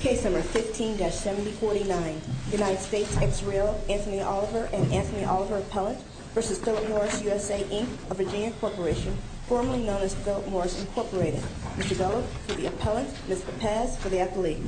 Case No. 15-7049 United States v. Israel Anthony Oliver and Anthony Oliver Appellant v. Philip Morris USA Inc. of Virginia Corporation, formerly known as Philip Morris Incorporated. Mr. Bello, for the Appellant. Mr. Paz, for the Athlete.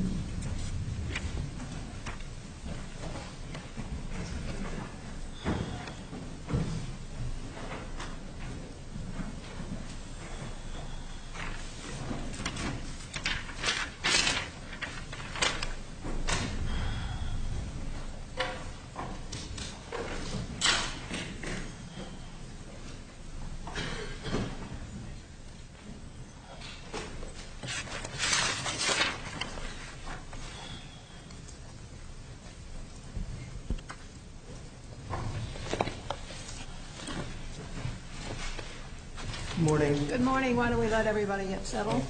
Good morning. Good morning. Why don't we let everybody get settled?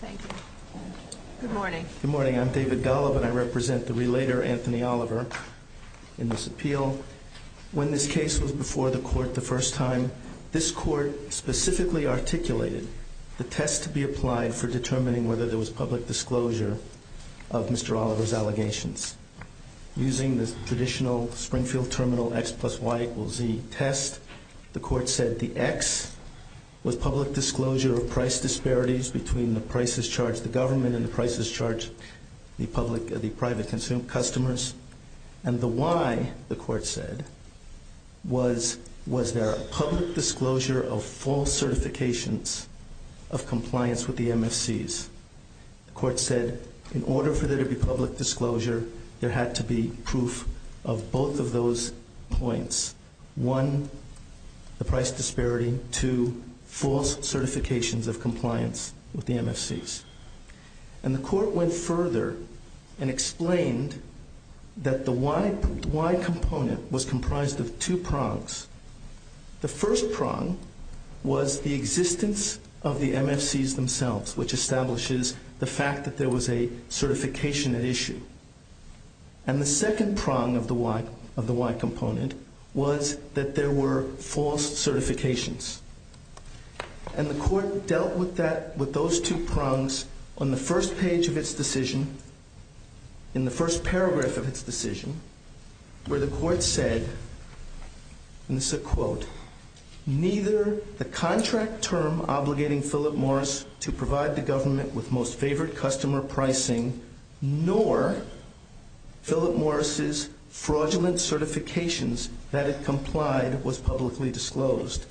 Thank you. Good morning. Good morning. I'm David Golub, and I represent the Relator, Anthony Oliver, in this appeal. When this case was before the Court the first time, this Court specifically articulated the test to be applied for determining whether there was public disclosure of Mr. Oliver's allegations. Using the traditional Springfield Terminal X plus Y equals Z test, the Court said the X was public disclosure of price disparities between the prices charged to government and the prices charged to the private consumers. And the Y, the Court said, was there a public disclosure of false certifications of compliance with the MFCs. The Court said in order for there to be public disclosure there had to be proof of both of those points. One, the price disparity. Two, false certifications of compliance with the MFCs. And the Court went further and explained that the Y component was comprised of two prongs. The first prong was the existence of the MFCs themselves, which establishes the fact that there was a certification at issue. And the second prong of the Y component was that there were false certifications. And the Court dealt with those two prongs on the first page of its decision, in the first paragraph of its decision, where the Court said, and this is a quote, Neither the contract term obligating Philip Morris to provide the government with most favored customer pricing nor Philip Morris' fraudulent certifications that it complied was publicly disclosed.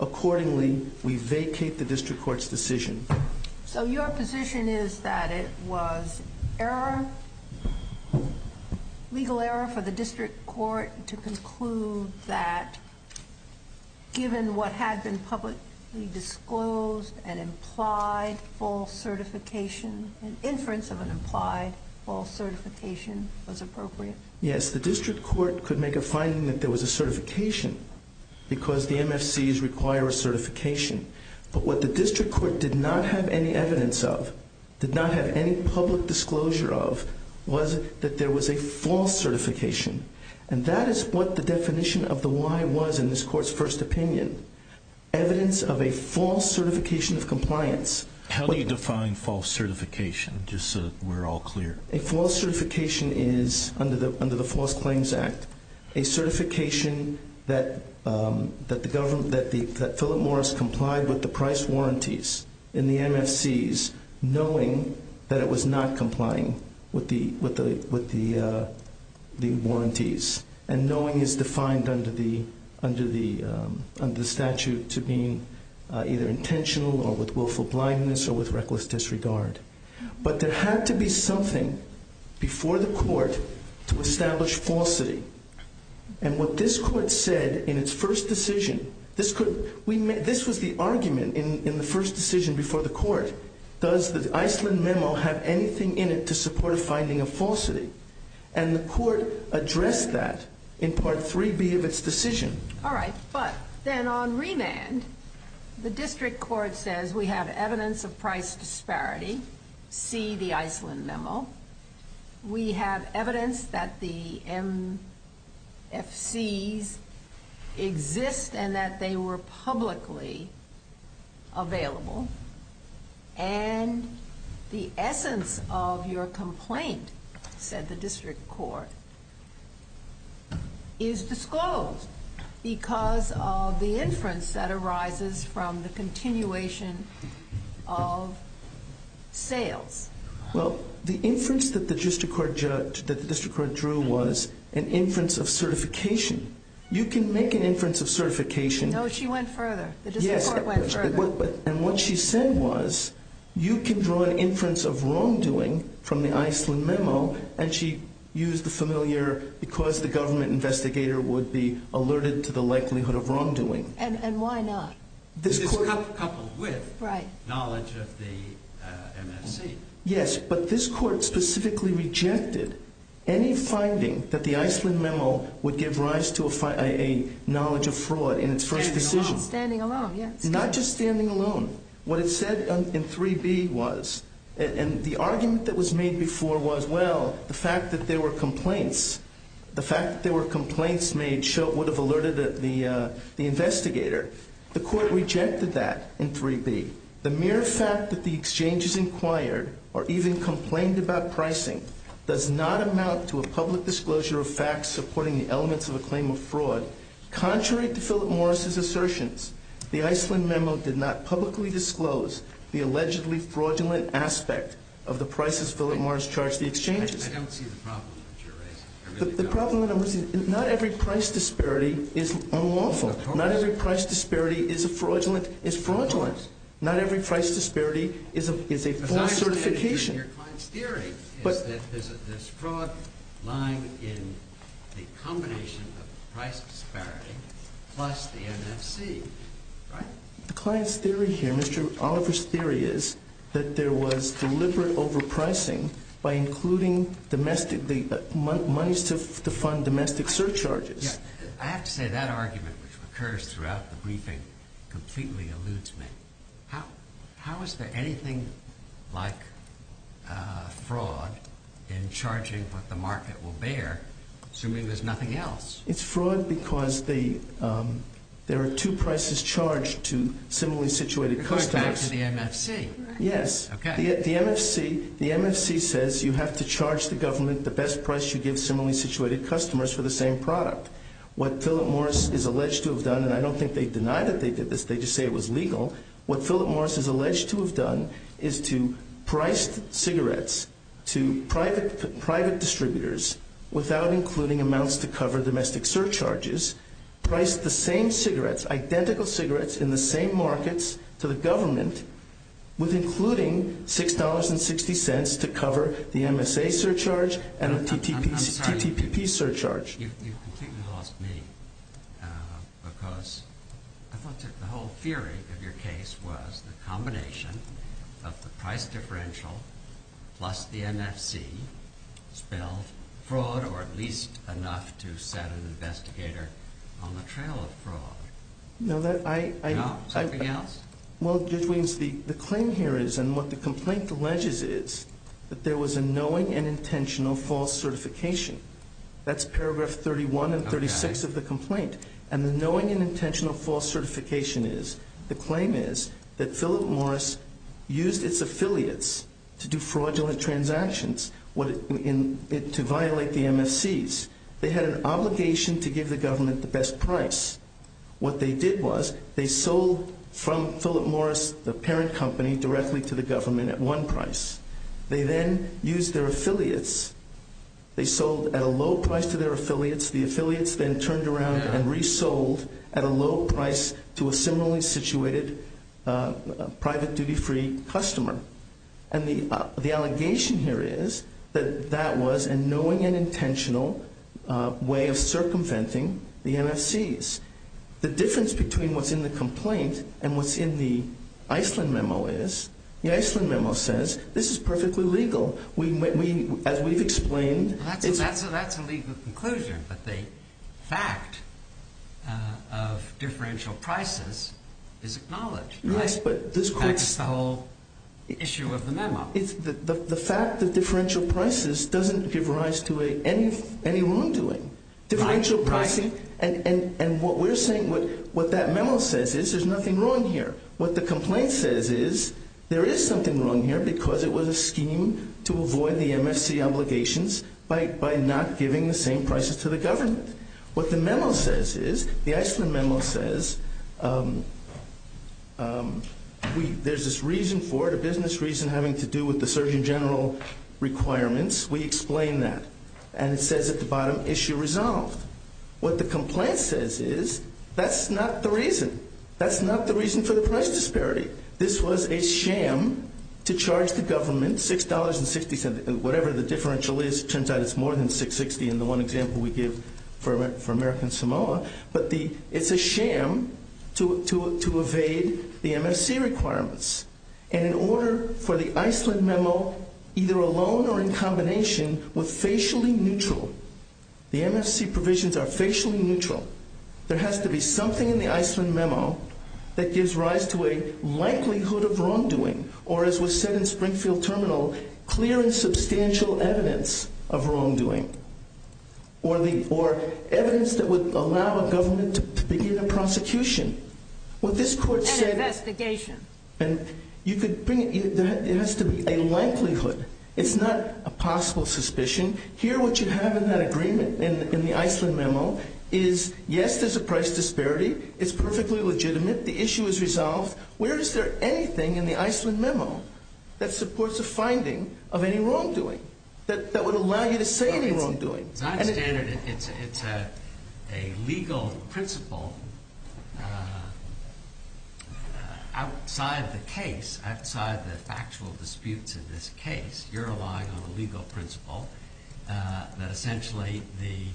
Accordingly, we vacate the District Court's decision. So your position is that it was error, legal error for the District Court to conclude that given what had been publicly disclosed, an implied false certification, an inference of an implied false certification was appropriate? Yes, the District Court could make a finding that there was a certification because the MFCs require a certification. But what the District Court did not have any evidence of, did not have any public disclosure of, was that there was a false certification. And that is what the definition of the Y was in this Court's first opinion, evidence of a false certification of compliance. How do you define false certification, just so we're all clear? A false certification is, under the False Claims Act, a certification that Philip Morris complied with the price warranties in the MFCs, knowing that it was not complying with the warranties. And knowing is defined under the statute to be either intentional or with willful blindness or with reckless disregard. But there had to be something before the Court to establish falsity. And what this Court said in its first decision, this was the argument in the first decision before the Court, does the Iceland memo have anything in it to support a finding of falsity? And the Court addressed that in Part 3B of its decision. All right, but then on remand, the District Court says we have evidence of price disparity. See the Iceland memo. We have evidence that the MFCs exist and that they were publicly available. And the essence of your complaint, said the District Court, is disclosed because of the inference that arises from the continuation of sales. Well, the inference that the District Court drew was an inference of certification. You can make an inference of certification. No, she went further. The District Court went further. And what she said was, you can draw an inference of wrongdoing from the Iceland memo. And she used the familiar, because the government investigator would be alerted to the likelihood of wrongdoing. And why not? This is coupled with knowledge of the MFC. Yes, but this Court specifically rejected any finding that the Iceland memo would give rise to a knowledge of fraud in its first decision. Standing alone. Not just standing alone. What it said in 3B was, and the argument that was made before was, well, the fact that there were complaints, the fact that there were complaints made would have alerted the investigator. The Court rejected that in 3B. The mere fact that the exchanges inquired or even complained about pricing does not amount to a public disclosure of facts supporting the elements of a claim of fraud. Contrary to Philip Morris' assertions, the Iceland memo did not publicly disclose the allegedly fraudulent aspect of the prices Philip Morris charged the exchanges. I don't see the problem that you're raising. The problem that I'm raising is not every price disparity is unlawful. Not every price disparity is fraudulent. Not every price disparity is a false certification. Your client's theory is that there's fraud lying in the combination of price disparity plus the MFC, right? The client's theory here, Mr. Oliver's theory, is that there was deliberate overpricing by including the monies to fund domestic surcharges. I have to say that argument, which occurs throughout the briefing, completely eludes me. How is there anything like fraud in charging what the market will bear, assuming there's nothing else? It's fraud because there are two prices charged to similarly situated customers. You're going back to the MFC, right? Yes. The MFC says you have to charge the government the best price you give similarly situated customers for the same product. What Philip Morris is alleged to have done, and I don't think they deny that they did this. They just say it was legal. What Philip Morris is alleged to have done is to price cigarettes to private distributors without including amounts to cover domestic surcharges, price the same cigarettes, identical cigarettes in the same markets to the government with including $6.60 to cover the MSA surcharge and the TTPP surcharge. You've completely lost me because I thought that the whole theory of your case was the combination of the price differential plus the MFC spelled fraud or at least enough to set an investigator on the trail of fraud. No, that I... No? Something else? Well, Judge Williams, the claim here is, and what the complaint alleges is, that there was a knowing and intentional false certification. That's paragraph 31 and 36 of the complaint. And the knowing and intentional false certification is, the claim is, that Philip Morris used its affiliates to do fraudulent transactions to violate the MFCs. They had an obligation to give the government the best price. What they did was they sold from Philip Morris, the parent company, directly to the government at one price. They then used their affiliates. They sold at a low price to their affiliates. The affiliates then turned around and resold at a low price to a similarly situated private duty free customer. And the allegation here is that that was a knowing and intentional way of circumventing the MFCs. The difference between what's in the complaint and what's in the Iceland memo is, the Iceland memo says, this is perfectly legal. As we've explained... That's a legal conclusion, but the fact of differential prices is acknowledged, right? Yes, but this... In fact, it's the whole issue of the memo. The fact that differential prices doesn't give rise to any wrongdoing. Differential pricing, and what we're saying, what that memo says is, there's nothing wrong here. What the complaint says is, there is something wrong here because it was a scheme to avoid the MFC obligations by not giving the same prices to the government. What the memo says is, the Iceland memo says, there's this reason for it, a business reason having to do with the Surgeon General requirements. We explain that, and it says at the bottom, issue resolved. What the complaint says is, that's not the reason. That's not the reason for the price disparity. This was a sham to charge the government $6.60, whatever the differential is. It turns out it's more than $6.60 in the one example we give for American Samoa. But it's a sham to evade the MFC requirements. And in order for the Iceland memo, either alone or in combination with facially neutral, the MFC provisions are facially neutral, there has to be something in the Iceland memo that gives rise to a likelihood of wrongdoing, or as was said in Springfield Terminal, clear and substantial evidence of wrongdoing. Or evidence that would allow a government to begin a prosecution. An investigation. There has to be a likelihood. It's not a possible suspicion. Here, what you have in that agreement, in the Iceland memo, is, yes, there's a price disparity. It's perfectly legitimate. The issue is resolved. Where is there anything in the Iceland memo that supports a finding of any wrongdoing, that would allow you to say any wrongdoing? As I understand it, it's a legal principle outside the case, outside the factual disputes in this case. You're relying on a legal principle that essentially the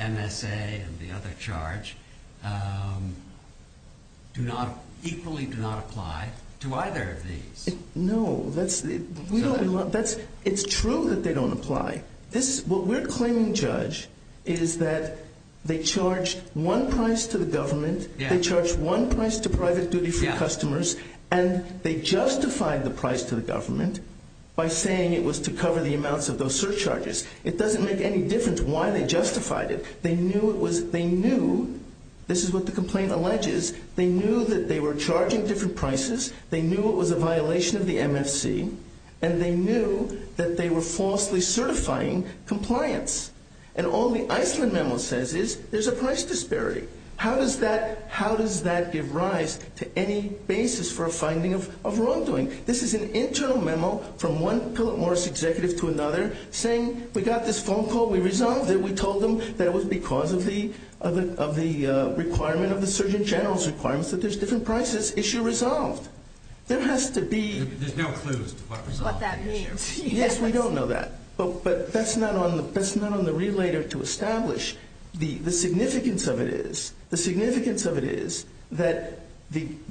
MSA and the other charge equally do not apply to either of these. No. It's true that they don't apply. What we're claiming, Judge, is that they charge one price to the government, they charge one price to private duty free customers, and they justified the price to the government by saying it was to cover the amounts of those surcharges. It doesn't make any difference why they justified it. They knew, this is what the complaint alleges, they knew that they were charging different prices, they knew it was a violation of the MFC, and they knew that they were falsely certifying compliance. And all the Iceland memo says is there's a price disparity. How does that give rise to any basis for a finding of wrongdoing? This is an internal memo from one Philip Morris executive to another saying we got this phone call, we resolved it, we told them that it was because of the requirement of the Surgeon General's requirements that there's different prices. Issue resolved. There has to be... There's no clues to what resolved the issue. Yes, we don't know that, but that's not on the relator to establish. The significance of it is that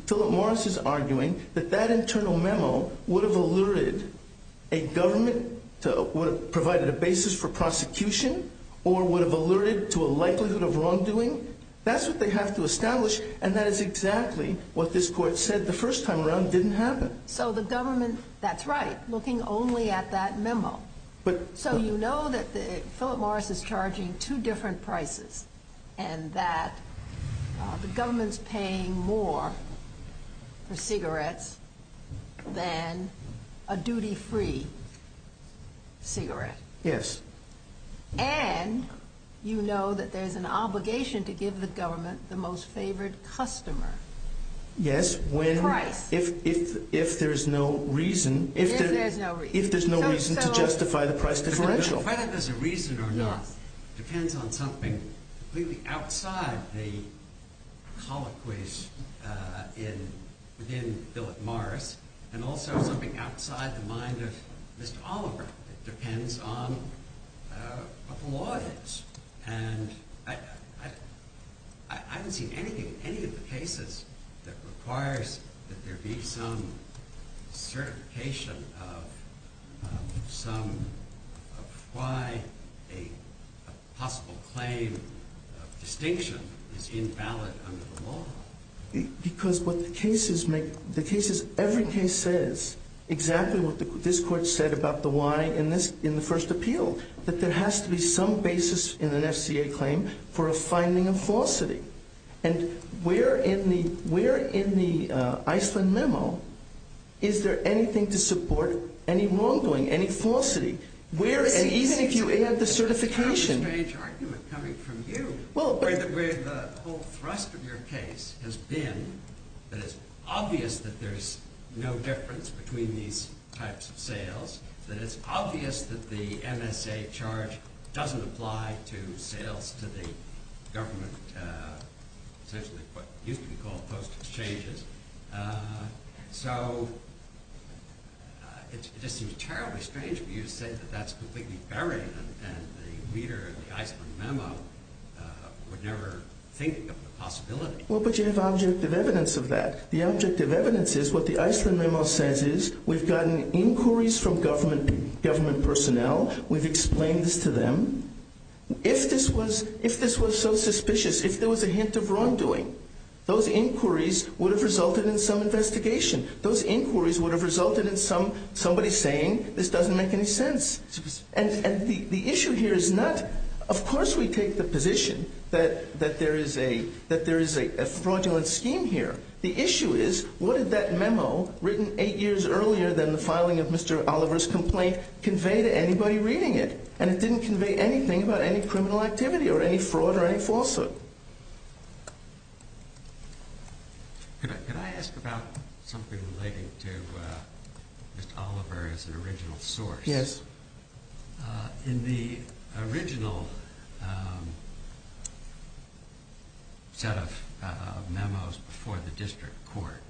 Philip Morris is arguing that that internal memo would have alerted a government, would have provided a basis for prosecution, or would have alerted to a likelihood of wrongdoing. That's what they have to establish, and that is exactly what this court said the first time around didn't happen. So the government, that's right, looking only at that memo. So you know that Philip Morris is charging two different prices, and that the government's paying more for cigarettes than a duty-free cigarette. Yes. And you know that there's an obligation to give the government the most favored customer. Yes, if there's no reason to justify the price differential. Whether there's a reason or not depends on something completely outside the colloquies within Philip Morris, and also something outside the mind of Mr. Oliver. It depends on what the law is. And I haven't seen anything, any of the cases that requires that there be some certification of some, of why a possible claim of distinction is invalid under the law. Because what the cases make, the cases, every case says exactly what this court said about the why in the first appeal, that there has to be some basis in an FCA claim for a finding of falsity. And where in the Iceland memo is there anything to support any wrongdoing, any falsity? Even if you add the certification. That's a kind of strange argument coming from you, where the whole thrust of your case has been that it's obvious that there's no difference between these types of sales, that it's obvious that the MSA charge doesn't apply to sales to the government, essentially what used to be called post-exchanges. So it just seems terribly strange for you to say that that's completely buried, and the reader of the Iceland memo would never think of the possibility. Well, but you have objective evidence of that. The objective evidence is what the Iceland memo says is we've gotten inquiries from government personnel, we've explained this to them. If this was so suspicious, if there was a hint of wrongdoing, those inquiries would have resulted in some investigation. Those inquiries would have resulted in somebody saying this doesn't make any sense. And the issue here is not, of course we take the position that there is a fraudulent scheme here. The issue is what did that memo, written eight years earlier than the filing of Mr. Oliver's complaint, convey to anybody reading it? And it didn't convey anything about any criminal activity or any fraud or any falsehood. Could I ask about something related to Mr. Oliver as an original source? Yes. In the original set of memos before the district court,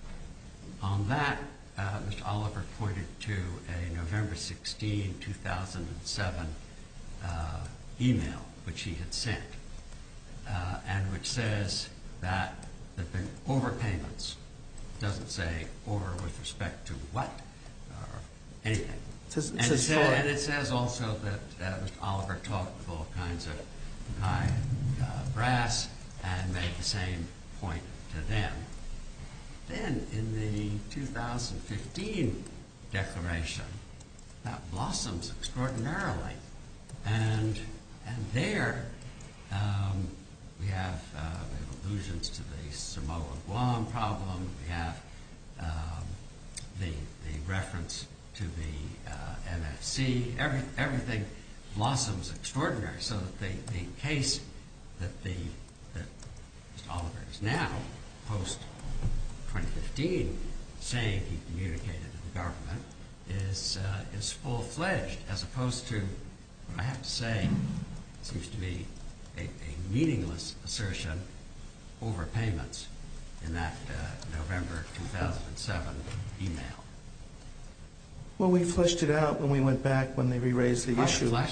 on that Mr. Oliver pointed to a November 16, 2007 email which he had sent, and which says that the overpayments doesn't say over with respect to what or anything. And it says also that Mr. Oliver talked with all kinds of high brass and made the same point to them. Then in the 2015 declaration, that blossoms extraordinarily. And there we have allusions to the Samoa Guam problem. We have the reference to the MFC. Everything blossoms extraordinarily. So the case that Mr. Oliver is now, post-2015, saying he communicated to the government, is full-fledged as opposed to, I have to say, seems to be a meaningless assertion over payments in that November 2007 email. Well, we fleshed it out when we went back when they re-raised the issue. I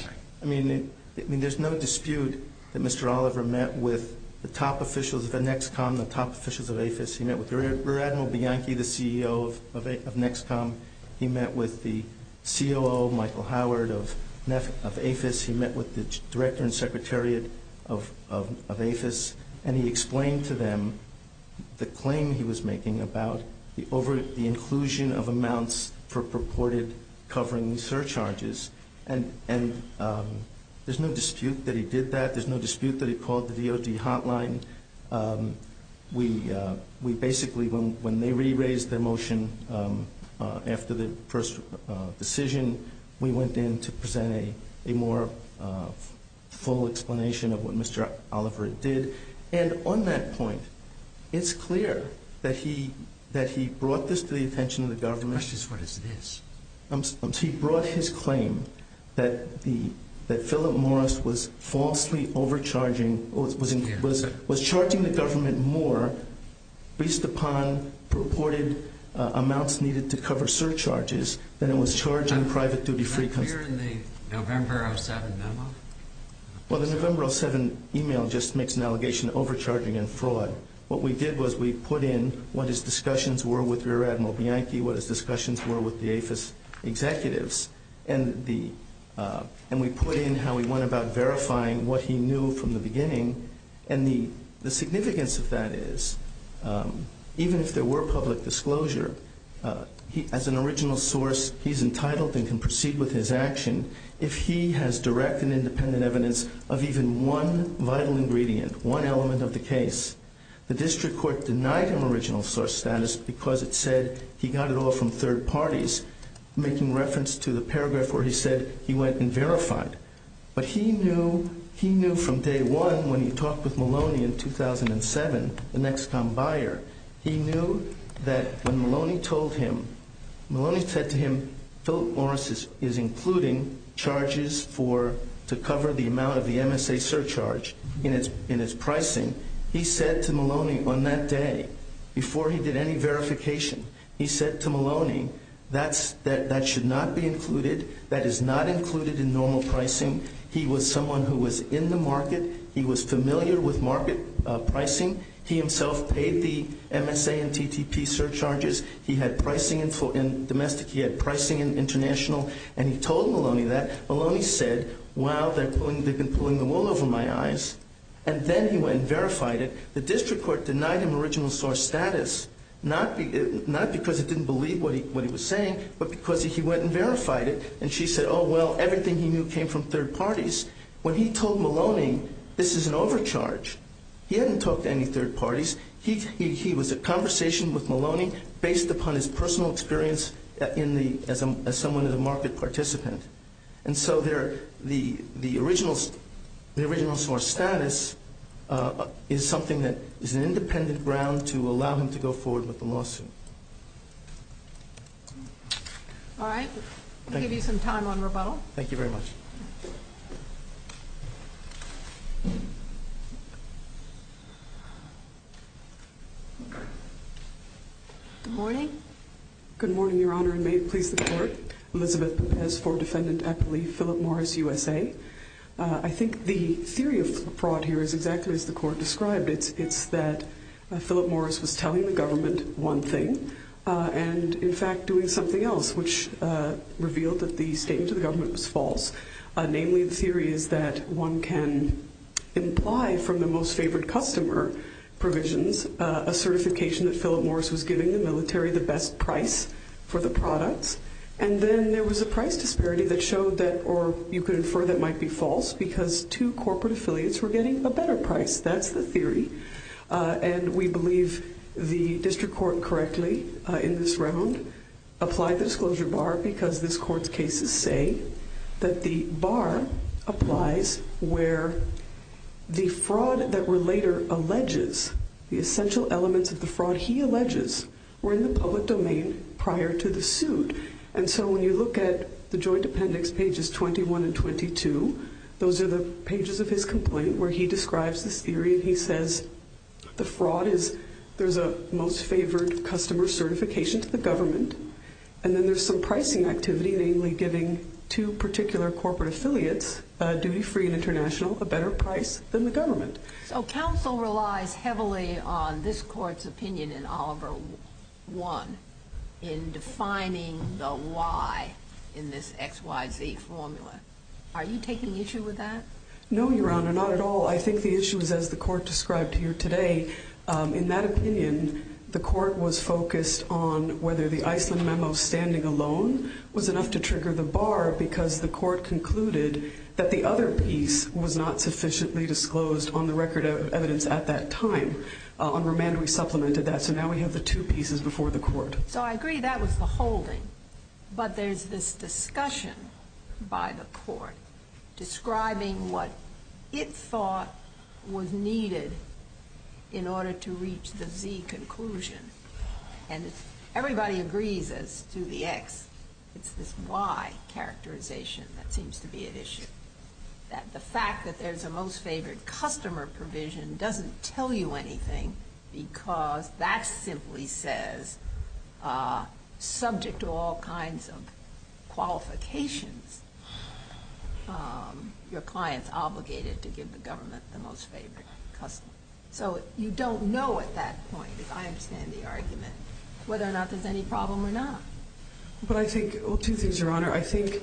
mean, there's no dispute that Mr. Oliver met with the top officials of NEXCOM, the top officials of AFIS. He met with Rear Admiral Bianchi, the CEO of NEXCOM. He met with the COO, Michael Howard, of AFIS. He met with the Director and Secretariat of AFIS. And he explained to them the claim he was making about the inclusion of amounts for purported covering surcharges. And there's no dispute that he did that. There's no dispute that he called the DOD hotline. We basically, when they re-raised their motion after the first decision, we went in to present a more full explanation of what Mr. Oliver did. And on that point, it's clear that he brought this to the attention of the government. The question is, what is this? He brought his claim that Philip Morris was falsely overcharging, was charging the government more based upon purported amounts needed to cover surcharges than it was charging private duty free companies. Is that clear in the November 07 memo? Well, the November 07 email just makes an allegation of overcharging and fraud. What we did was we put in what his discussions were with Rear Admiral Bianchi, what his discussions were with the AFIS executives, and we put in how he went about verifying what he knew from the beginning. And the significance of that is, even if there were public disclosure, as an original source, he's entitled and can proceed with his action if he has direct and independent evidence of even one vital ingredient, one element of the case. The district court denied him original source status because it said he got it all from third parties, making reference to the paragraph where he said he went and verified. But he knew from day one when he talked with Maloney in 2007, the Nexcom buyer, he knew that when Maloney told him, Maloney said to him, Philip Morris is including charges to cover the amount of the MSA surcharge in his pricing, he said to Maloney on that day, before he did any verification, he said to Maloney, that should not be included. That is not included in normal pricing. He was someone who was in the market. He was familiar with market pricing. He himself paid the MSA and TTP surcharges. He had pricing in domestic. He had pricing in international. And he told Maloney that. Maloney said, wow, they've been pulling the wool over my eyes. And then he went and verified it. The district court denied him original source status, not because it didn't believe what he was saying, but because he went and verified it. And she said, oh, well, everything he knew came from third parties. When he told Maloney, this is an overcharge. He hadn't talked to any third parties. He was a conversation with Maloney based upon his personal experience as someone in the market participant. And so the original source status is something that is an independent ground to allow him to go forward with the lawsuit. All right. I'll give you some time on rebuttal. Thank you very much. Good morning. Good morning, Your Honor, and may it please the court. Elizabeth Pérez, former defendant at the Lee Philip Morris USA. I think the theory of fraud here is exactly as the court described it. It's that Philip Morris was telling the government one thing and, in fact, doing something else, which revealed that the statement to the government was false. Namely, the theory is that one can imply from the most favored customer provisions a certification that Philip Morris was giving the military the best price for the products. And then there was a price disparity that showed that, or you could infer that might be false, because two corporate affiliates were getting a better price. That's the theory. And we believe the district court correctly in this round applied the disclosure bar because this court's cases say that the bar applies where the fraud that were later alleges, the essential elements of the fraud he alleges were in the public domain prior to the suit. And so when you look at the joint appendix, pages 21 and 22, those are the pages of his complaint where he describes this theory and he says the fraud is there's a most favored customer certification to the government, and then there's some pricing activity, namely giving two particular corporate affiliates, duty-free and international, a better price than the government. So counsel relies heavily on this court's opinion in Oliver I in defining the why in this XYZ formula. Are you taking issue with that? No, Your Honor, not at all. I think the issue is, as the court described here today, in that opinion, the court was focused on whether the Iceland memo standing alone was enough to trigger the bar because the court concluded that the other piece was not sufficiently disclosed on the record of evidence at that time. On remand we supplemented that, so now we have the two pieces before the court. So I agree that was the holding, but there's this discussion by the court describing what it thought was needed in order to reach the Z conclusion, and everybody agrees as to the X. It's this Y characterization that seems to be at issue, that the fact that there's a most favored customer provision doesn't tell you anything because that simply says, subject to all kinds of qualifications, your client's obligated to give the government the most favored customer. So you don't know at that point, if I understand the argument, whether or not there's any problem or not. Well, two things, Your Honor. I think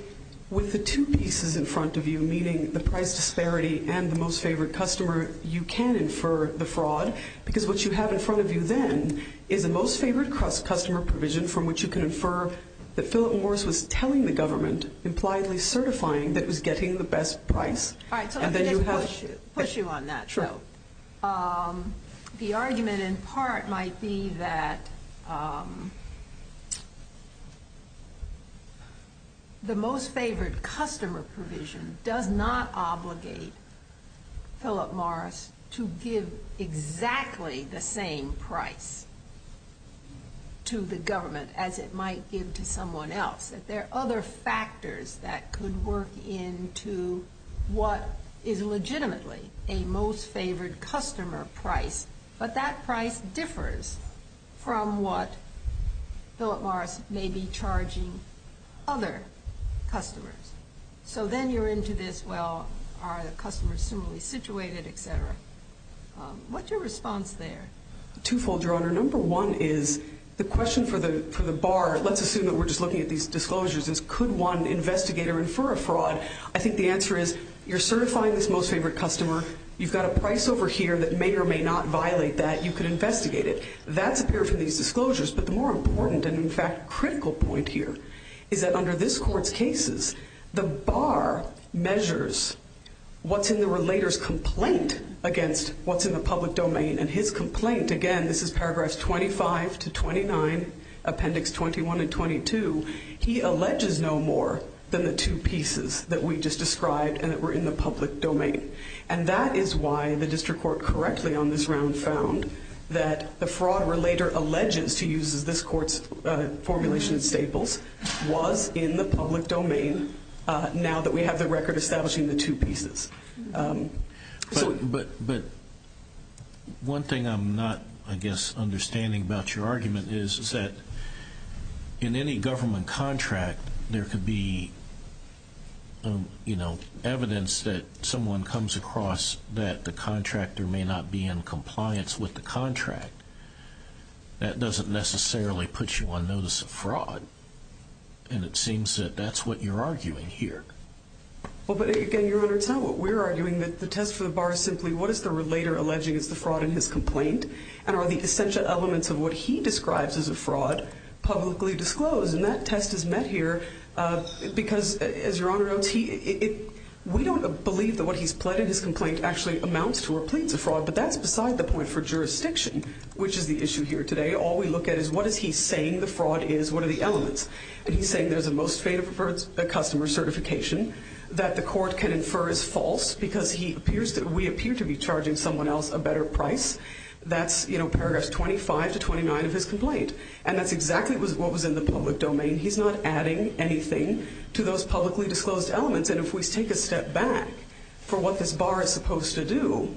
with the two pieces in front of you, meaning the price disparity and the most favored customer, you can infer the fraud because what you have in front of you then is a most favored customer provision from which you can infer that Philip Morris was telling the government, impliedly certifying that he was getting the best price. All right, so let me just push you on that. Sure. The argument in part might be that the most favored customer provision does not obligate Philip Morris to give exactly the same price to the government as it might give to someone else. That there are other factors that could work into what is legitimately a most favored customer price, but that price differs from what Philip Morris may be charging other customers. So then you're into this, well, are the customers similarly situated, et cetera. What's your response there? Twofold, Your Honor. Number one is the question for the bar, let's assume that we're just looking at these disclosures, is could one investigator infer a fraud? I think the answer is you're certifying this most favored customer. You've got a price over here that may or may not violate that. You could investigate it. That's appeared from these disclosures. But the more important and, in fact, critical point here is that under this Court's cases, the bar measures what's in the relator's complaint against what's in the public domain. And his complaint, again, this is paragraphs 25 to 29, appendix 21 and 22, he alleges no more than the two pieces that we just described and that were in the public domain. And that is why the district court correctly on this round found that the fraud relator alleges, to use this Court's formulation of staples, was in the public domain now that we have the record establishing the two pieces. But one thing I'm not, I guess, understanding about your argument is that in any government contract, there could be evidence that someone comes across that the contractor may not be in compliance with the contract. That doesn't necessarily put you on notice of fraud. And it seems that that's what you're arguing here. Well, but again, Your Honor, it's not what we're arguing. The test for the bar is simply what is the relator alleging is the fraud in his complaint and are the essential elements of what he describes as a fraud publicly disclosed. And that test is met here because, as Your Honor notes, we don't believe that what he's pled in his complaint actually amounts to or pleads a fraud, but that's beside the point for jurisdiction, which is the issue here today. All we look at is what is he saying the fraud is, what are the elements. And he's saying there's a most fatal customer certification that the court can infer is false because we appear to be charging someone else a better price. That's, you know, paragraphs 25 to 29 of his complaint. And that's exactly what was in the public domain. He's not adding anything to those publicly disclosed elements. And if we take a step back for what this bar is supposed to do,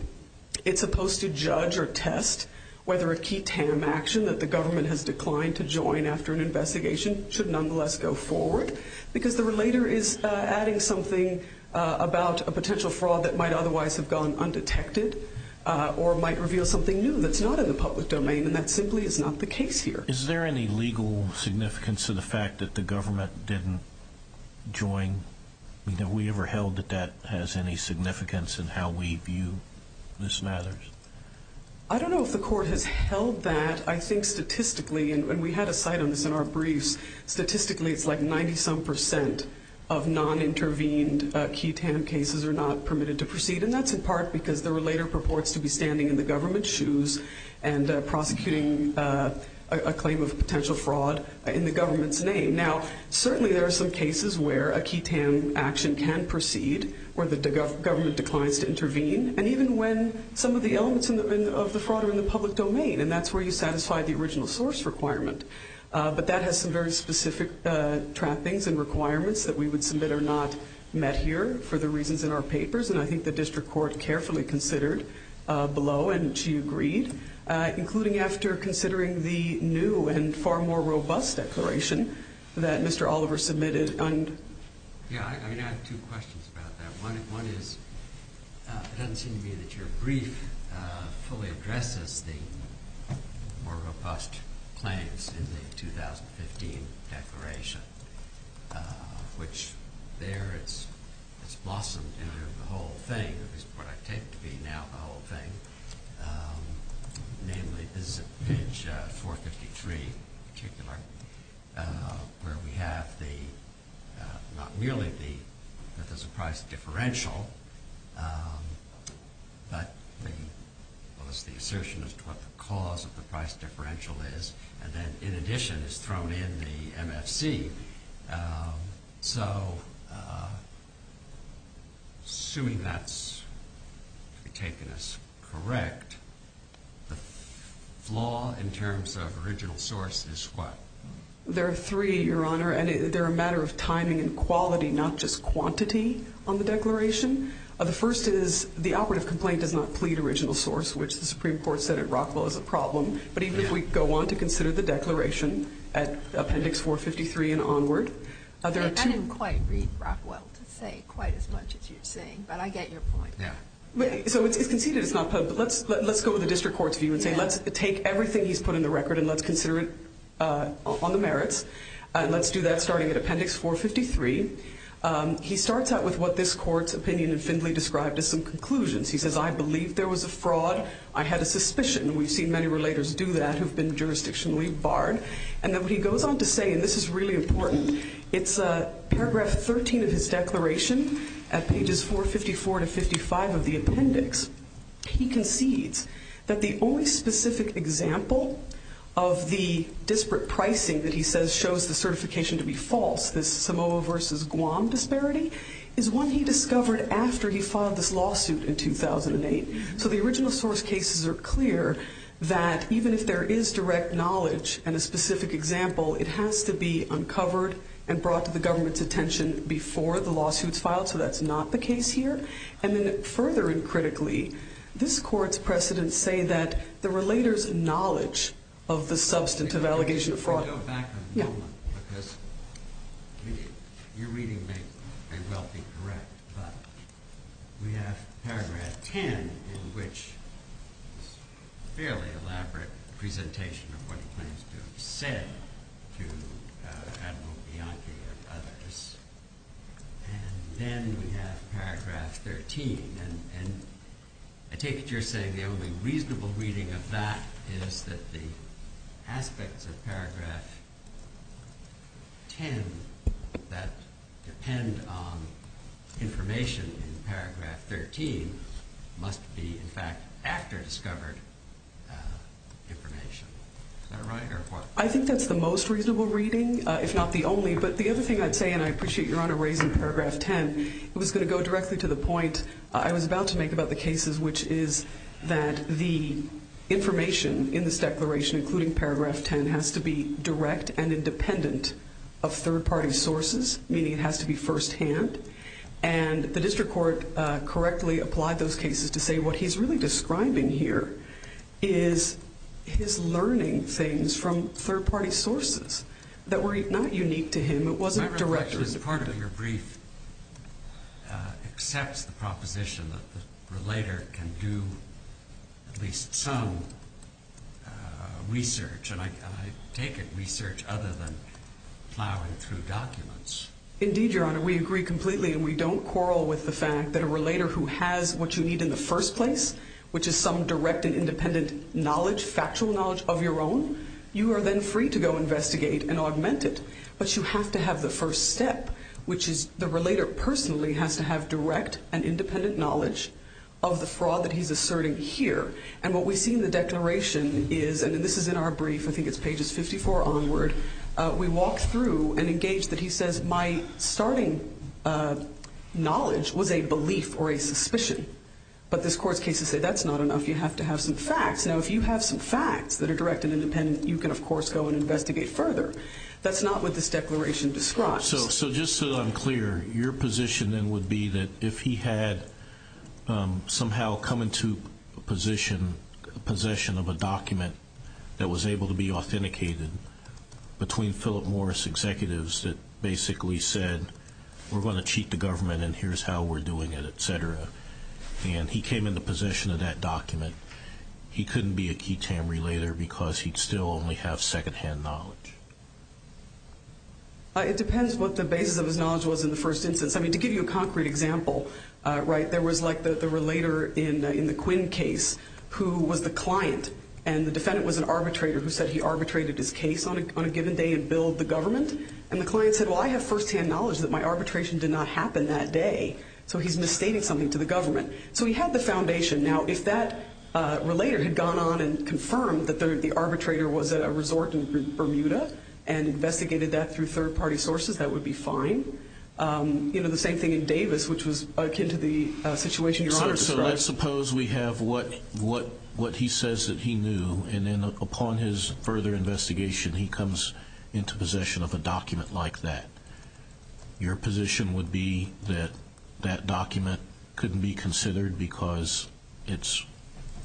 it's supposed to judge or test whether a key TAM action that the government has declined to join after an investigation should nonetheless go forward because the relator is adding something about a potential fraud that might otherwise have gone undetected or might reveal something new that's not in the public domain, and that simply is not the case here. Is there any legal significance to the fact that the government didn't join? Have we ever held that that has any significance in how we view this matter? I don't know if the court has held that. But I think statistically, and we had a site on this in our briefs, statistically it's like 90-some percent of non-intervened key TAM cases are not permitted to proceed, and that's in part because the relator purports to be standing in the government's shoes and prosecuting a claim of potential fraud in the government's name. Now, certainly there are some cases where a key TAM action can proceed where the government declines to intervene, and even when some of the elements of the fraud are in the public domain, and that's where you satisfy the original source requirement. But that has some very specific trappings and requirements that we would submit are not met here for the reasons in our papers, and I think the district court carefully considered below, and she agreed, including after considering the new and far more robust declaration that Mr. Oliver submitted. Yeah, I have two questions about that. One is it doesn't seem to me that your brief fully addresses the more robust claims in the 2015 declaration, which there it's blossomed into the whole thing, at least what I take to be now the whole thing, namely this is at page 453 in particular, where we have not merely the Methodist price differential, but the assertion as to what the cause of the price differential is, and then in addition is thrown in the MFC. So assuming that's taken as correct, the flaw in terms of original source is what? There are three, Your Honor, and they're a matter of timing and quality, not just quantity on the declaration. The first is the operative complaint does not plead original source, which the Supreme Court said at Rockville is a problem, but even if we go on to consider the declaration at appendix 453 and onward. I didn't quite read Rockville to say quite as much as you're saying, but I get your point. So it's conceded it's not, but let's go with the district court's view and say let's take everything he's put in the record and let's consider it on the merits, and let's do that starting at appendix 453. He starts out with what this court's opinion in Findley described as some conclusions. He says I believe there was a fraud. I had a suspicion. We've seen many relators do that who've been jurisdictionally barred. And then he goes on to say, and this is really important, it's paragraph 13 of his declaration at pages 454 to 55 of the appendix. He concedes that the only specific example of the disparate pricing that he says shows the certification to be false, this Samoa versus Guam disparity, is one he discovered after he filed this lawsuit in 2008. So the original source cases are clear that even if there is direct knowledge and a specific example, it has to be uncovered and brought to the government's attention before the lawsuit's filed. So that's not the case here. And then further and critically, this court's precedents say that the relators acknowledge of the substantive allegation of fraud. I want to go back a moment because your reading may well be correct, but we have paragraph 10 in which it's a fairly elaborate presentation of what he claims to have said to Admiral Bianchi and others. And then we have paragraph 13. And I take it you're saying the only reasonable reading of that is that the aspects of paragraph 10 that depend on information in paragraph 13 must be, in fact, after-discovered information. Is that right or what? I think that's the most reasonable reading, if not the only. But the other thing I'd say, and I appreciate your Honor raising paragraph 10, it was going to go directly to the point I was about to make about the cases, which is that the information in this declaration, including paragraph 10, has to be direct and independent of third-party sources, meaning it has to be firsthand. And the district court correctly applied those cases to say what he's really describing here is his learning things from third-party sources that were not unique to him. It wasn't direct or independent. My reflection is part of your brief accepts the proposition that the relator can do at least some research, and I take it research other than plowing through documents. Indeed, Your Honor. We agree completely and we don't quarrel with the fact that a relator who has what you need in the first place, which is some direct and independent knowledge, factual knowledge of your own, you are then free to go investigate and augment it. But you have to have the first step, which is the relator personally has to have direct and independent knowledge of the fraud that he's asserting here. And what we see in the declaration is, and this is in our brief, I think it's pages 54 onward, we walk through and engage that he says my starting knowledge was a belief or a suspicion. But this court's cases say that's not enough. You have to have some facts. Now, if you have some facts that are direct and independent, you can, of course, go and investigate further. That's not what this declaration describes. So just so that I'm clear, your position then would be that if he had somehow come into possession of a document that was able to be authenticated between Philip Morris executives that basically said, we're going to cheat the government and here's how we're doing it, et cetera, and he came into possession of that document, he couldn't be a key Tamri later because he'd still only have second-hand knowledge. It depends what the basis of his knowledge was in the first instance. I mean, to give you a concrete example, right, there was like the relator in the Quinn case who was the client, and the defendant was an arbitrator who said he arbitrated his case on a given day and billed the government. And the client said, well, I have first-hand knowledge that my arbitration did not happen that day, so he's misstating something to the government. So he had the foundation. Now, if that relator had gone on and confirmed that the arbitrator was at a resort in Bermuda and investigated that through third-party sources, that would be fine. You know, the same thing in Davis, which was akin to the situation your Honor described. So let's suppose we have what he says that he knew, and then upon his further investigation he comes into possession of a document like that. Your position would be that that document couldn't be considered because it's,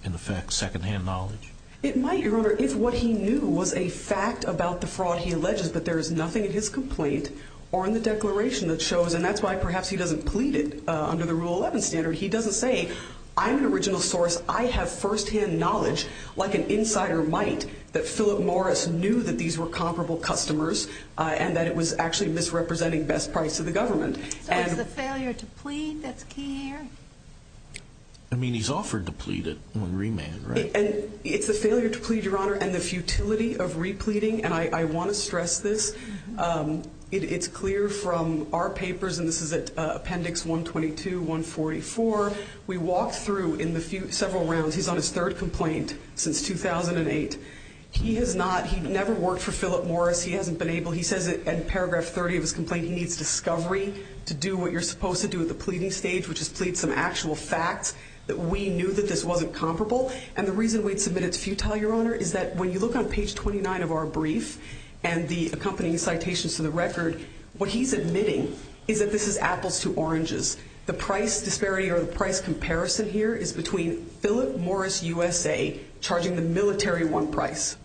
in effect, second-hand knowledge? It might, Your Honor, if what he knew was a fact about the fraud he alleges, but there is nothing in his complaint or in the declaration that shows, and that's why perhaps he doesn't plead it under the Rule 11 standard. He doesn't say, I'm an original source. I have first-hand knowledge, like an insider might, that Philip Morris knew that these were comparable customers and that it was actually misrepresenting best price to the government. So it's the failure to plead that's key here? I mean, he's offered to plead it on remand, right? It's the failure to plead, Your Honor, and the futility of repleading. And I want to stress this. It's clear from our papers, and this is at Appendix 122-144, we walked through in several rounds, he's on his third complaint since 2008. He has not, he never worked for Philip Morris. He hasn't been able, he says in paragraph 30 of his complaint, he needs discovery to do what you're supposed to do at the pleading stage, which is plead some actual facts that we knew that this wasn't comparable. And the reason we'd submit it's futile, Your Honor, is that when you look on page 29 of our brief and the accompanying citations to the record, what he's admitting is that this is apples to oranges. The price disparity or the price comparison here is between Philip Morris USA charging the military one price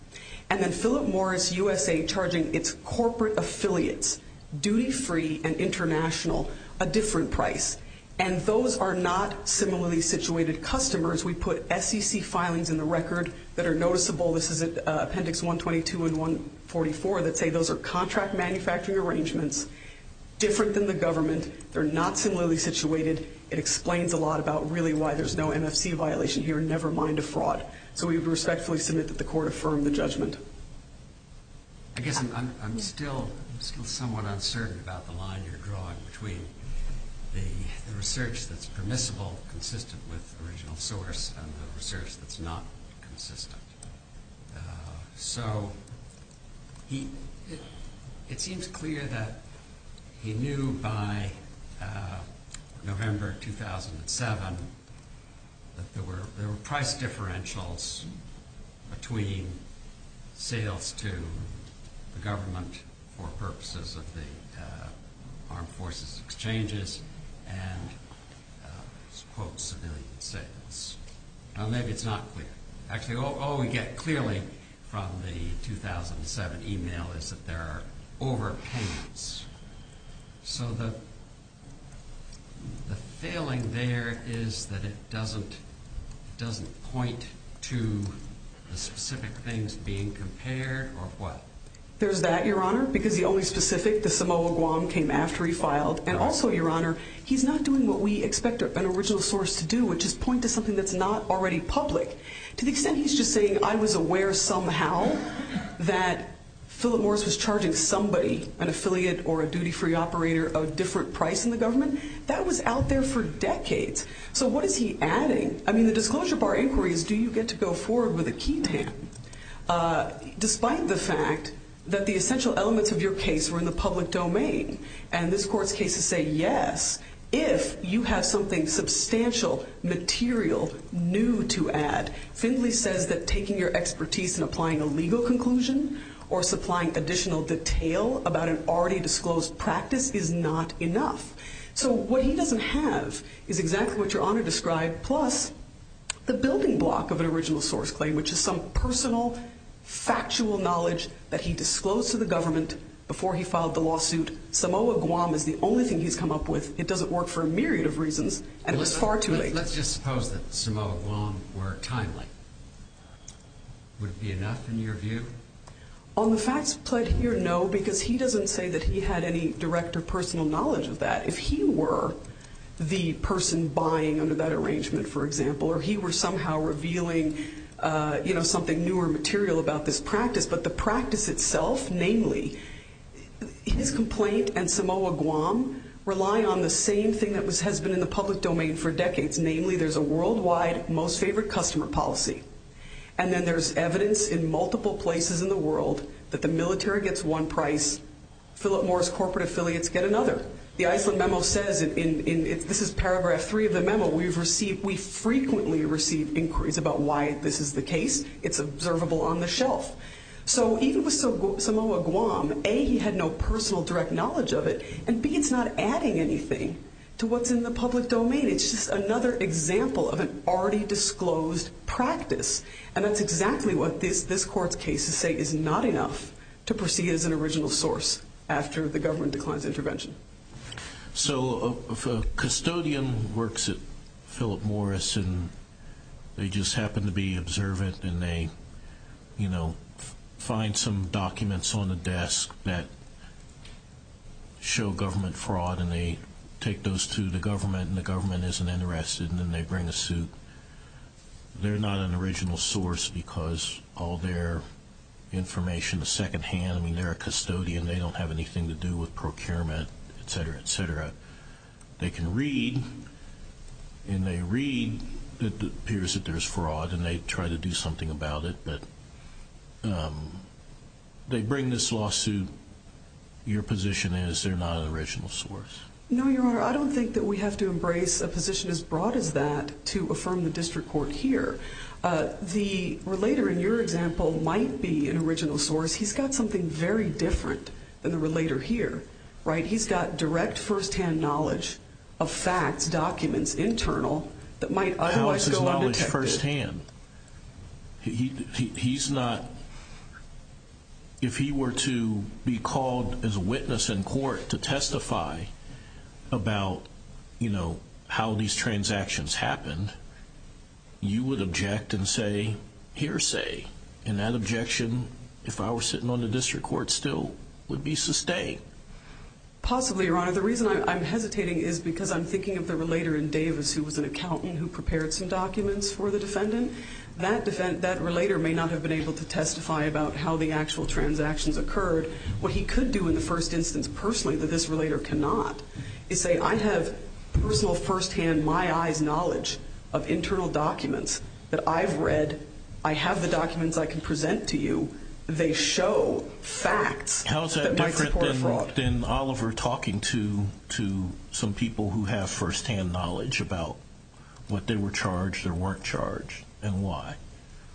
and then Philip Morris USA charging its corporate affiliates, duty-free and international, a different price. And those are not similarly situated customers. We put SEC filings in the record that are noticeable. This is at Appendix 122 and 144 that say those are contract manufacturing arrangements, different than the government. They're not similarly situated. It explains a lot about really why there's no MFC violation here, never mind a fraud. So we respectfully submit that the court affirmed the judgment. the research that's permissible consistent with the original source and the research that's not consistent. So it seems clear that he knew by November 2007 that there were price differentials between sales to the government for purposes of the armed forces exchanges and, quote, civilian sales. Now, maybe it's not clear. Actually, all we get clearly from the 2007 email is that there are overpayments. So the failing there is that it doesn't point to the specific things being compared or what? There's that, Your Honor, because the only specific, the Samoa Guam, came after he filed. And also, Your Honor, he's not doing what we expect an original source to do, which is point to something that's not already public. To the extent he's just saying I was aware somehow that Philip Morris was charging somebody, an affiliate or a duty-free operator, a different price in the government, that was out there for decades. So what is he adding? I mean, the disclosure bar inquiry is do you get to go forward with a key tan, despite the fact that the essential elements of your case were in the public domain? And this Court's cases say yes, if you have something substantial, material, new to add. Findley says that taking your expertise and applying a legal conclusion or supplying additional detail about an already disclosed practice is not enough. So what he doesn't have is exactly what Your Honor described, plus the building block of an original source claim, which is some personal, factual knowledge that he disclosed to the government before he filed the lawsuit. Samoa Guam is the only thing he's come up with. It doesn't work for a myriad of reasons, and it was far too late. Let's just suppose that Samoa Guam were timely. Would it be enough in your view? On the facts played here, no, because he doesn't say that he had any direct or personal knowledge of that. If he were the person buying under that arrangement, for example, or he were somehow revealing something new or material about this practice, but the practice itself, namely, his complaint and Samoa Guam rely on the same thing that has been in the public domain for decades. Namely, there's a worldwide most favorite customer policy, and then there's evidence in multiple places in the world that the military gets one price, Philip Morris corporate affiliates get another. The Iceland memo says, this is paragraph three of the memo, we frequently receive inquiries about why this is the case. It's observable on the shelf. So even with Samoa Guam, A, he had no personal direct knowledge of it, and B, it's not adding anything to what's in the public domain. It's just another example of an already disclosed practice, and that's exactly what this court's cases say is not enough to proceed as an original source after the government declines intervention. So if a custodian works at Philip Morris and they just happen to be observant and they find some documents on the desk that show government fraud and they take those to the government and the government isn't interested and then they bring a suit, they're not an original source because all their information is second-hand. I mean, they're a custodian. They don't have anything to do with procurement, et cetera, et cetera. They can read, and they read that it appears that there's fraud and they try to do something about it, but they bring this lawsuit. Your position is they're not an original source. No, Your Honor, I don't think that we have to embrace a position as broad as that to affirm the district court here. The relator in your example might be an original source. He's got something very different than the relator here, right? He's got direct firsthand knowledge of facts, documents, internal, that might otherwise go undetected. Who has his knowledge firsthand? He's not. If he were to be called as a witness in court to testify about, you know, how these transactions happened, you would object and say hearsay, and that objection, if I were sitting on the district court still, would be sustained. Possibly, Your Honor. The reason I'm hesitating is because I'm thinking of the relator in Davis who was an accountant who prepared some documents for the defendant. That relator may not have been able to testify about how the actual transactions occurred. What he could do in the first instance personally that this relator cannot is say, I have personal firsthand, my eyes knowledge of internal documents that I've read. I have the documents I can present to you. They show facts that might support a fraud. How is that different than Oliver talking to some people who have firsthand knowledge about what they were charged or weren't charged and why?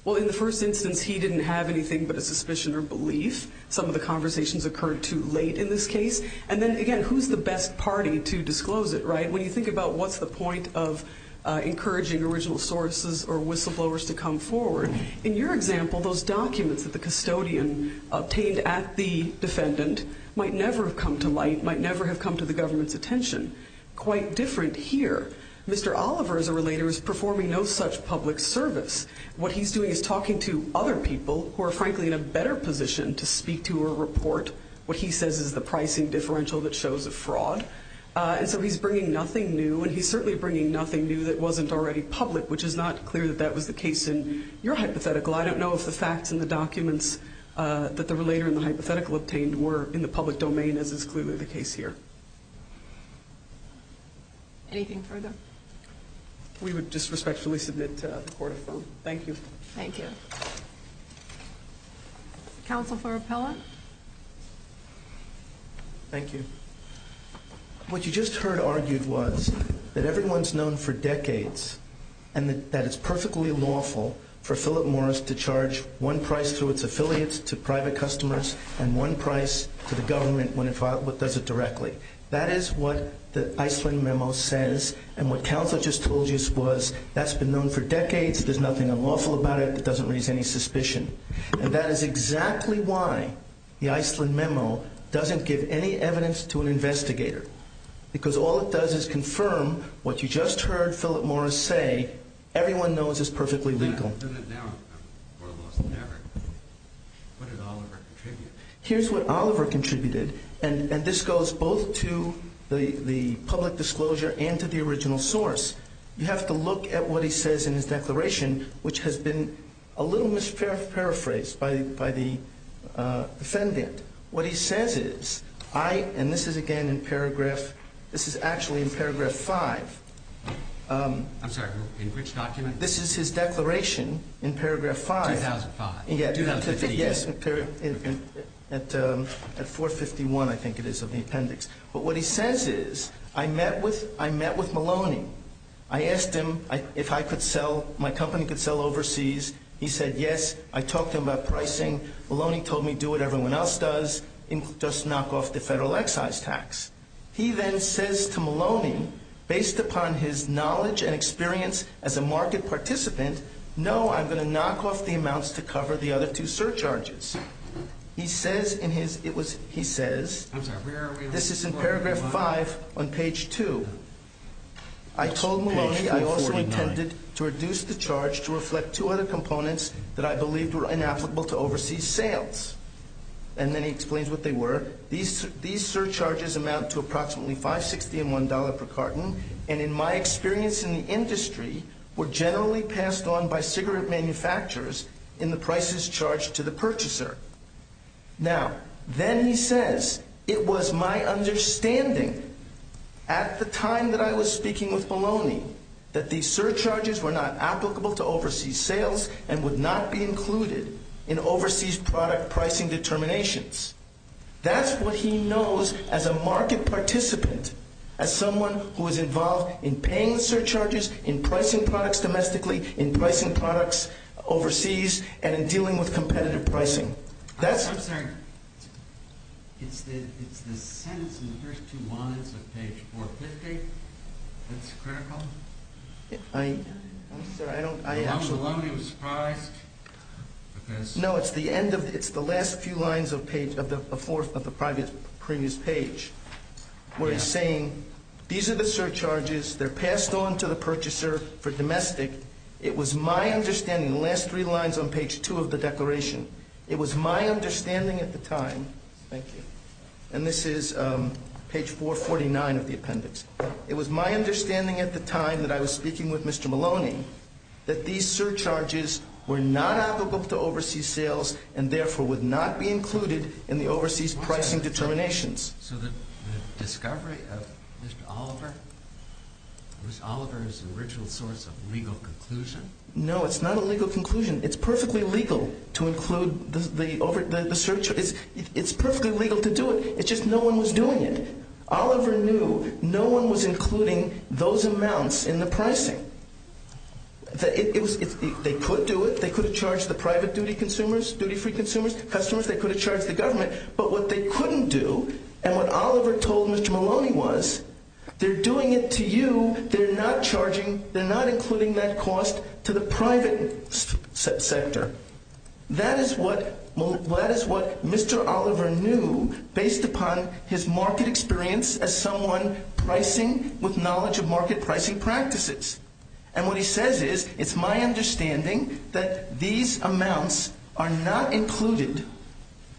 Well, in the first instance, he didn't have anything but a suspicion or belief. Some of the conversations occurred too late in this case. And then, again, who's the best party to disclose it, right? When you think about what's the point of encouraging original sources or whistleblowers to come forward, in your example those documents that the custodian obtained at the defendant might never have come to light, might never have come to the government's attention. Quite different here. Mr. Oliver, as a relator, is performing no such public service. What he's doing is talking to other people who are, frankly, in a better position to speak to or report what he says is the pricing differential that shows a fraud. And so he's bringing nothing new, and he's certainly bringing nothing new that wasn't already public, which is not clear that that was the case in your hypothetical. I don't know if the facts in the documents that the relator in the hypothetical obtained were in the public domain, as is clearly the case here. Anything further? We would disrespectfully submit to the Court of Firm. Thank you. Thank you. Counsel for Appellant? Thank you. What you just heard argued was that everyone's known for decades and that it's perfectly lawful for Philip Morris to charge one price through its affiliates to private customers and one price to the government when it does it directly. That is what the Iceland memo says, and what counsel just told you was that's been known for decades, there's nothing unlawful about it, it doesn't raise any suspicion. And that is exactly why the Iceland memo doesn't give any evidence to an investigator, because all it does is confirm what you just heard Philip Morris say, everyone knows is perfectly legal. Now, more lost than ever, what did Oliver contribute? Here's what Oliver contributed, and this goes both to the public disclosure and to the original source. You have to look at what he says in his declaration, which has been a little misparaphrased by the defendant. What he says is, and this is again in paragraph, this is actually in paragraph 5. I'm sorry, in which document? This is his declaration in paragraph 5. 2005. Yes, at 451, I think it is, of the appendix. But what he says is, I met with Maloney. I asked him if my company could sell overseas. He said yes. I talked to him about pricing. Maloney told me do what everyone else does, just knock off the federal excise tax. He then says to Maloney, based upon his knowledge and experience as a market participant, no, I'm going to knock off the amounts to cover the other two surcharges. He says, this is in paragraph 5 on page 2. I told Maloney I also intended to reduce the charge to reflect two other components that I believed were inapplicable to overseas sales. And then he explains what they were. These surcharges amount to approximately $5.60 and $1.00 per carton, and in my experience in the industry, were generally passed on by cigarette manufacturers in the prices charged to the purchaser. Now, then he says, it was my understanding at the time that I was speaking with Maloney that these surcharges were not applicable to overseas sales and would not be included in overseas product pricing determinations. That's what he knows as a market participant, as someone who is involved in paying surcharges, in pricing products domestically, in pricing products overseas, and in dealing with competitive pricing. I'm sorry, it's the sentence in the first two lines of page 450 that's critical? I'm sorry, I don't... Maloney was surprised because... No, it's the end of, it's the last few lines of page, of the fourth of the previous page, where he's saying, these are the surcharges, they're passed on to the purchaser for domestic. It was my understanding, the last three lines on page two of the declaration, it was my understanding at the time, and this is page 449 of the appendix, it was my understanding at the time that I was speaking with Mr. Maloney that these surcharges were not applicable to overseas sales and therefore would not be included in the overseas pricing determinations. So the discovery of Mr. Oliver, was Oliver's original source of legal conclusion? No, it's not a legal conclusion. It's perfectly legal to include the surcharge, it's perfectly legal to do it, it's just no one was doing it. Oliver knew no one was including those amounts in the pricing. They could do it, they could have charged the private duty consumers, duty-free consumers, customers, they could have charged the government, but what they couldn't do, and what Oliver told Mr. Maloney was, they're doing it to you, they're not charging, they're not including that cost to the private sector. That is what Mr. Oliver knew based upon his market experience as someone pricing with knowledge of market pricing practices. And what he says is, it's my understanding that these amounts are not included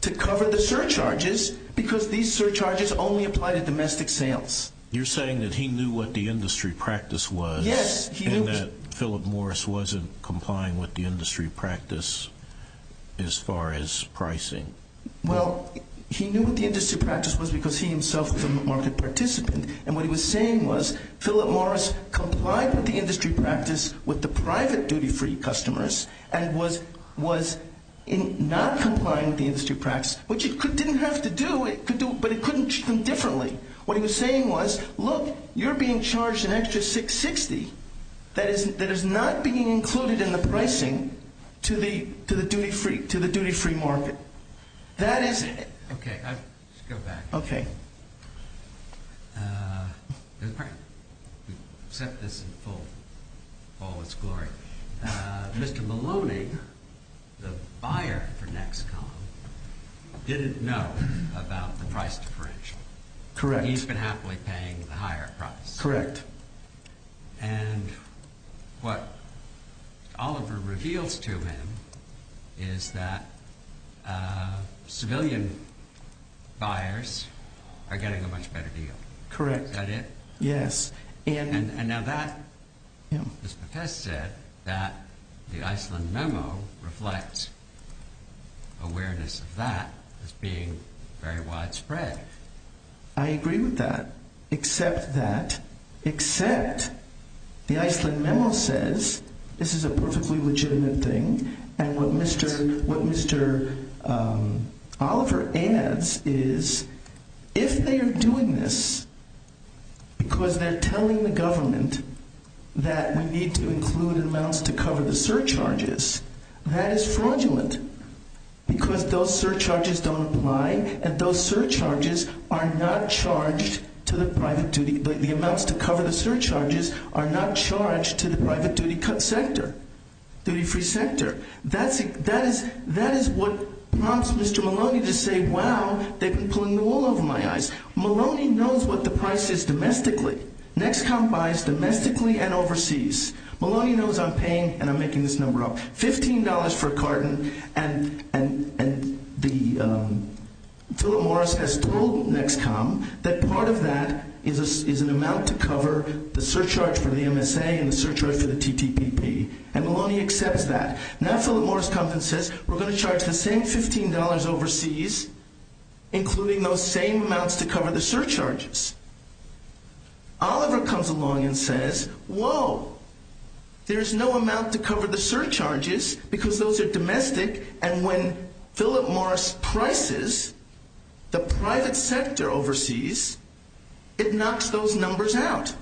to cover the surcharges because these surcharges only apply to domestic sales. You're saying that he knew what the industry practice was and that Philip Morris wasn't complying with the industry practice as far as pricing. Well, he knew what the industry practice was because he himself was a market participant. And what he was saying was, Philip Morris complied with the industry practice with the private duty-free customers and was not complying with the industry practice, which he didn't have to do, but he couldn't treat them differently. What he was saying was, look, you're being charged an extra $660,000 that is not being included in the pricing to the duty-free market. Okay, let's go back. Okay. There's a problem. We've set this in all its glory. Mr. Maloney, the buyer for Nexcom, didn't know about the price differential. Correct. He's been happily paying the higher price. Correct. And what Oliver reveals to him is that civilian buyers are getting a much better deal. Correct. Is that it? Yes. And now that, as Bethesda said, that the Iceland memo reflects awareness of that as being very widespread. I agree with that. Accept that. Accept the Iceland memo says this is a perfectly legitimate thing, and what Mr. Oliver adds is if they are doing this because they're telling the government that we need to include amounts to cover the surcharges, that is fraudulent because those surcharges don't apply, and the amounts to cover the surcharges are not charged to the private duty sector, duty-free sector. That is what prompts Mr. Maloney to say, wow, they've been pulling the wool over my eyes. Maloney knows what the price is domestically. Nexcom buys domestically and overseas. Maloney knows I'm paying, and I'm making this number up, $15 for a carton, and Philip Morris has told Nexcom that part of that is an amount to cover the surcharge for the MSA and the surcharge for the TTPP, and Maloney accepts that. Now Philip Morris comes and says we're going to charge the same $15 overseas, including those same amounts to cover the surcharges. Oliver comes along and says, whoa, there's no amount to cover the surcharges because those are domestic, and when Philip Morris prices the private sector overseas, it knocks those numbers out.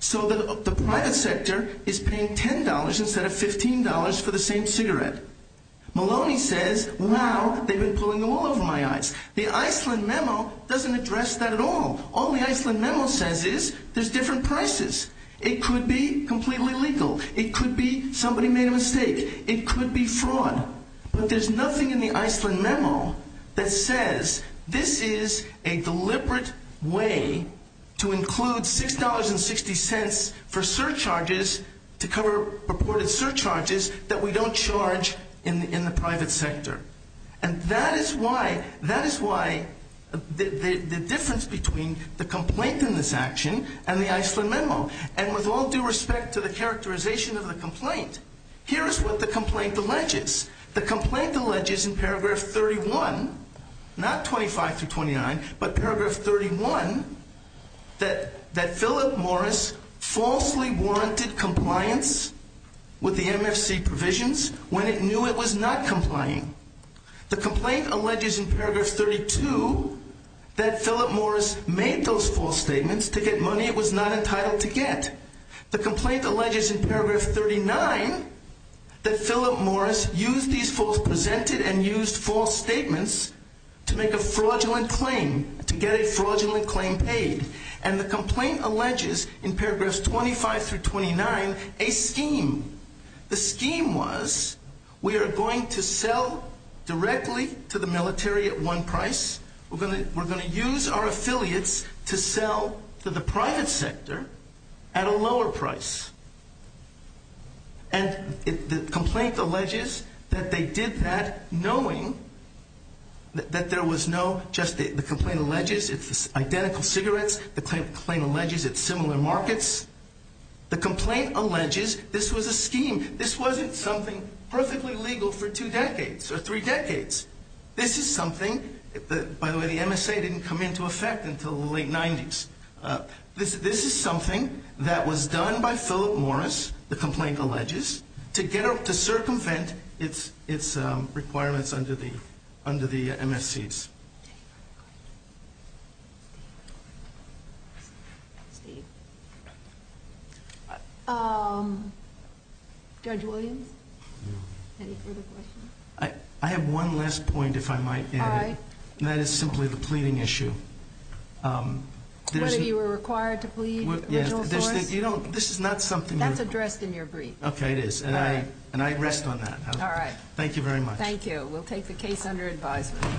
So the private sector is paying $10 instead of $15 for the same cigarette. Maloney says, wow, they've been pulling the wool over my eyes. The Iceland memo doesn't address that at all. All the Iceland memo says is there's different prices. It could be completely legal. It could be somebody made a mistake. It could be fraud. But there's nothing in the Iceland memo that says this is a deliberate way to include $6.60 for surcharges to cover purported surcharges that we don't charge in the private sector. And that is why the difference between the complaint in this action and the Iceland memo, and with all due respect to the characterization of the complaint, here is what the complaint alleges. The complaint alleges in paragraph 31, not 25 through 29, but paragraph 31, that Philip Morris falsely warranted compliance with the MFC provisions when it knew it was not complying. The complaint alleges in paragraph 32 that Philip Morris made those false statements to get money it was not entitled to get. The complaint alleges in paragraph 39 that Philip Morris used these false presented and used false statements to make a fraudulent claim, to get a fraudulent claim paid. And the complaint alleges in paragraphs 25 through 29 a scheme. The scheme was we are going to sell directly to the military at one price. We're going to use our affiliates to sell to the private sector at a lower price. And the complaint alleges that they did that knowing that there was no, just the complaint alleges it's identical cigarettes. The claim alleges it's similar markets. The complaint alleges this was a scheme. This wasn't something perfectly legal for two decades or three decades. This is something, by the way, the MSA didn't come into effect until the late 90s. This is something that was done by Philip Morris, the complaint alleges, to circumvent its requirements under the MSC's. Judge Williams, any further questions? I have one last point if I might add. That is simply the pleading issue. What, if you were required to plead original source? You don't, this is not something you're. That's addressed in your brief. Okay, it is. And I rest on that. All right. Thank you very much. Thank you. We'll take the case under advisement.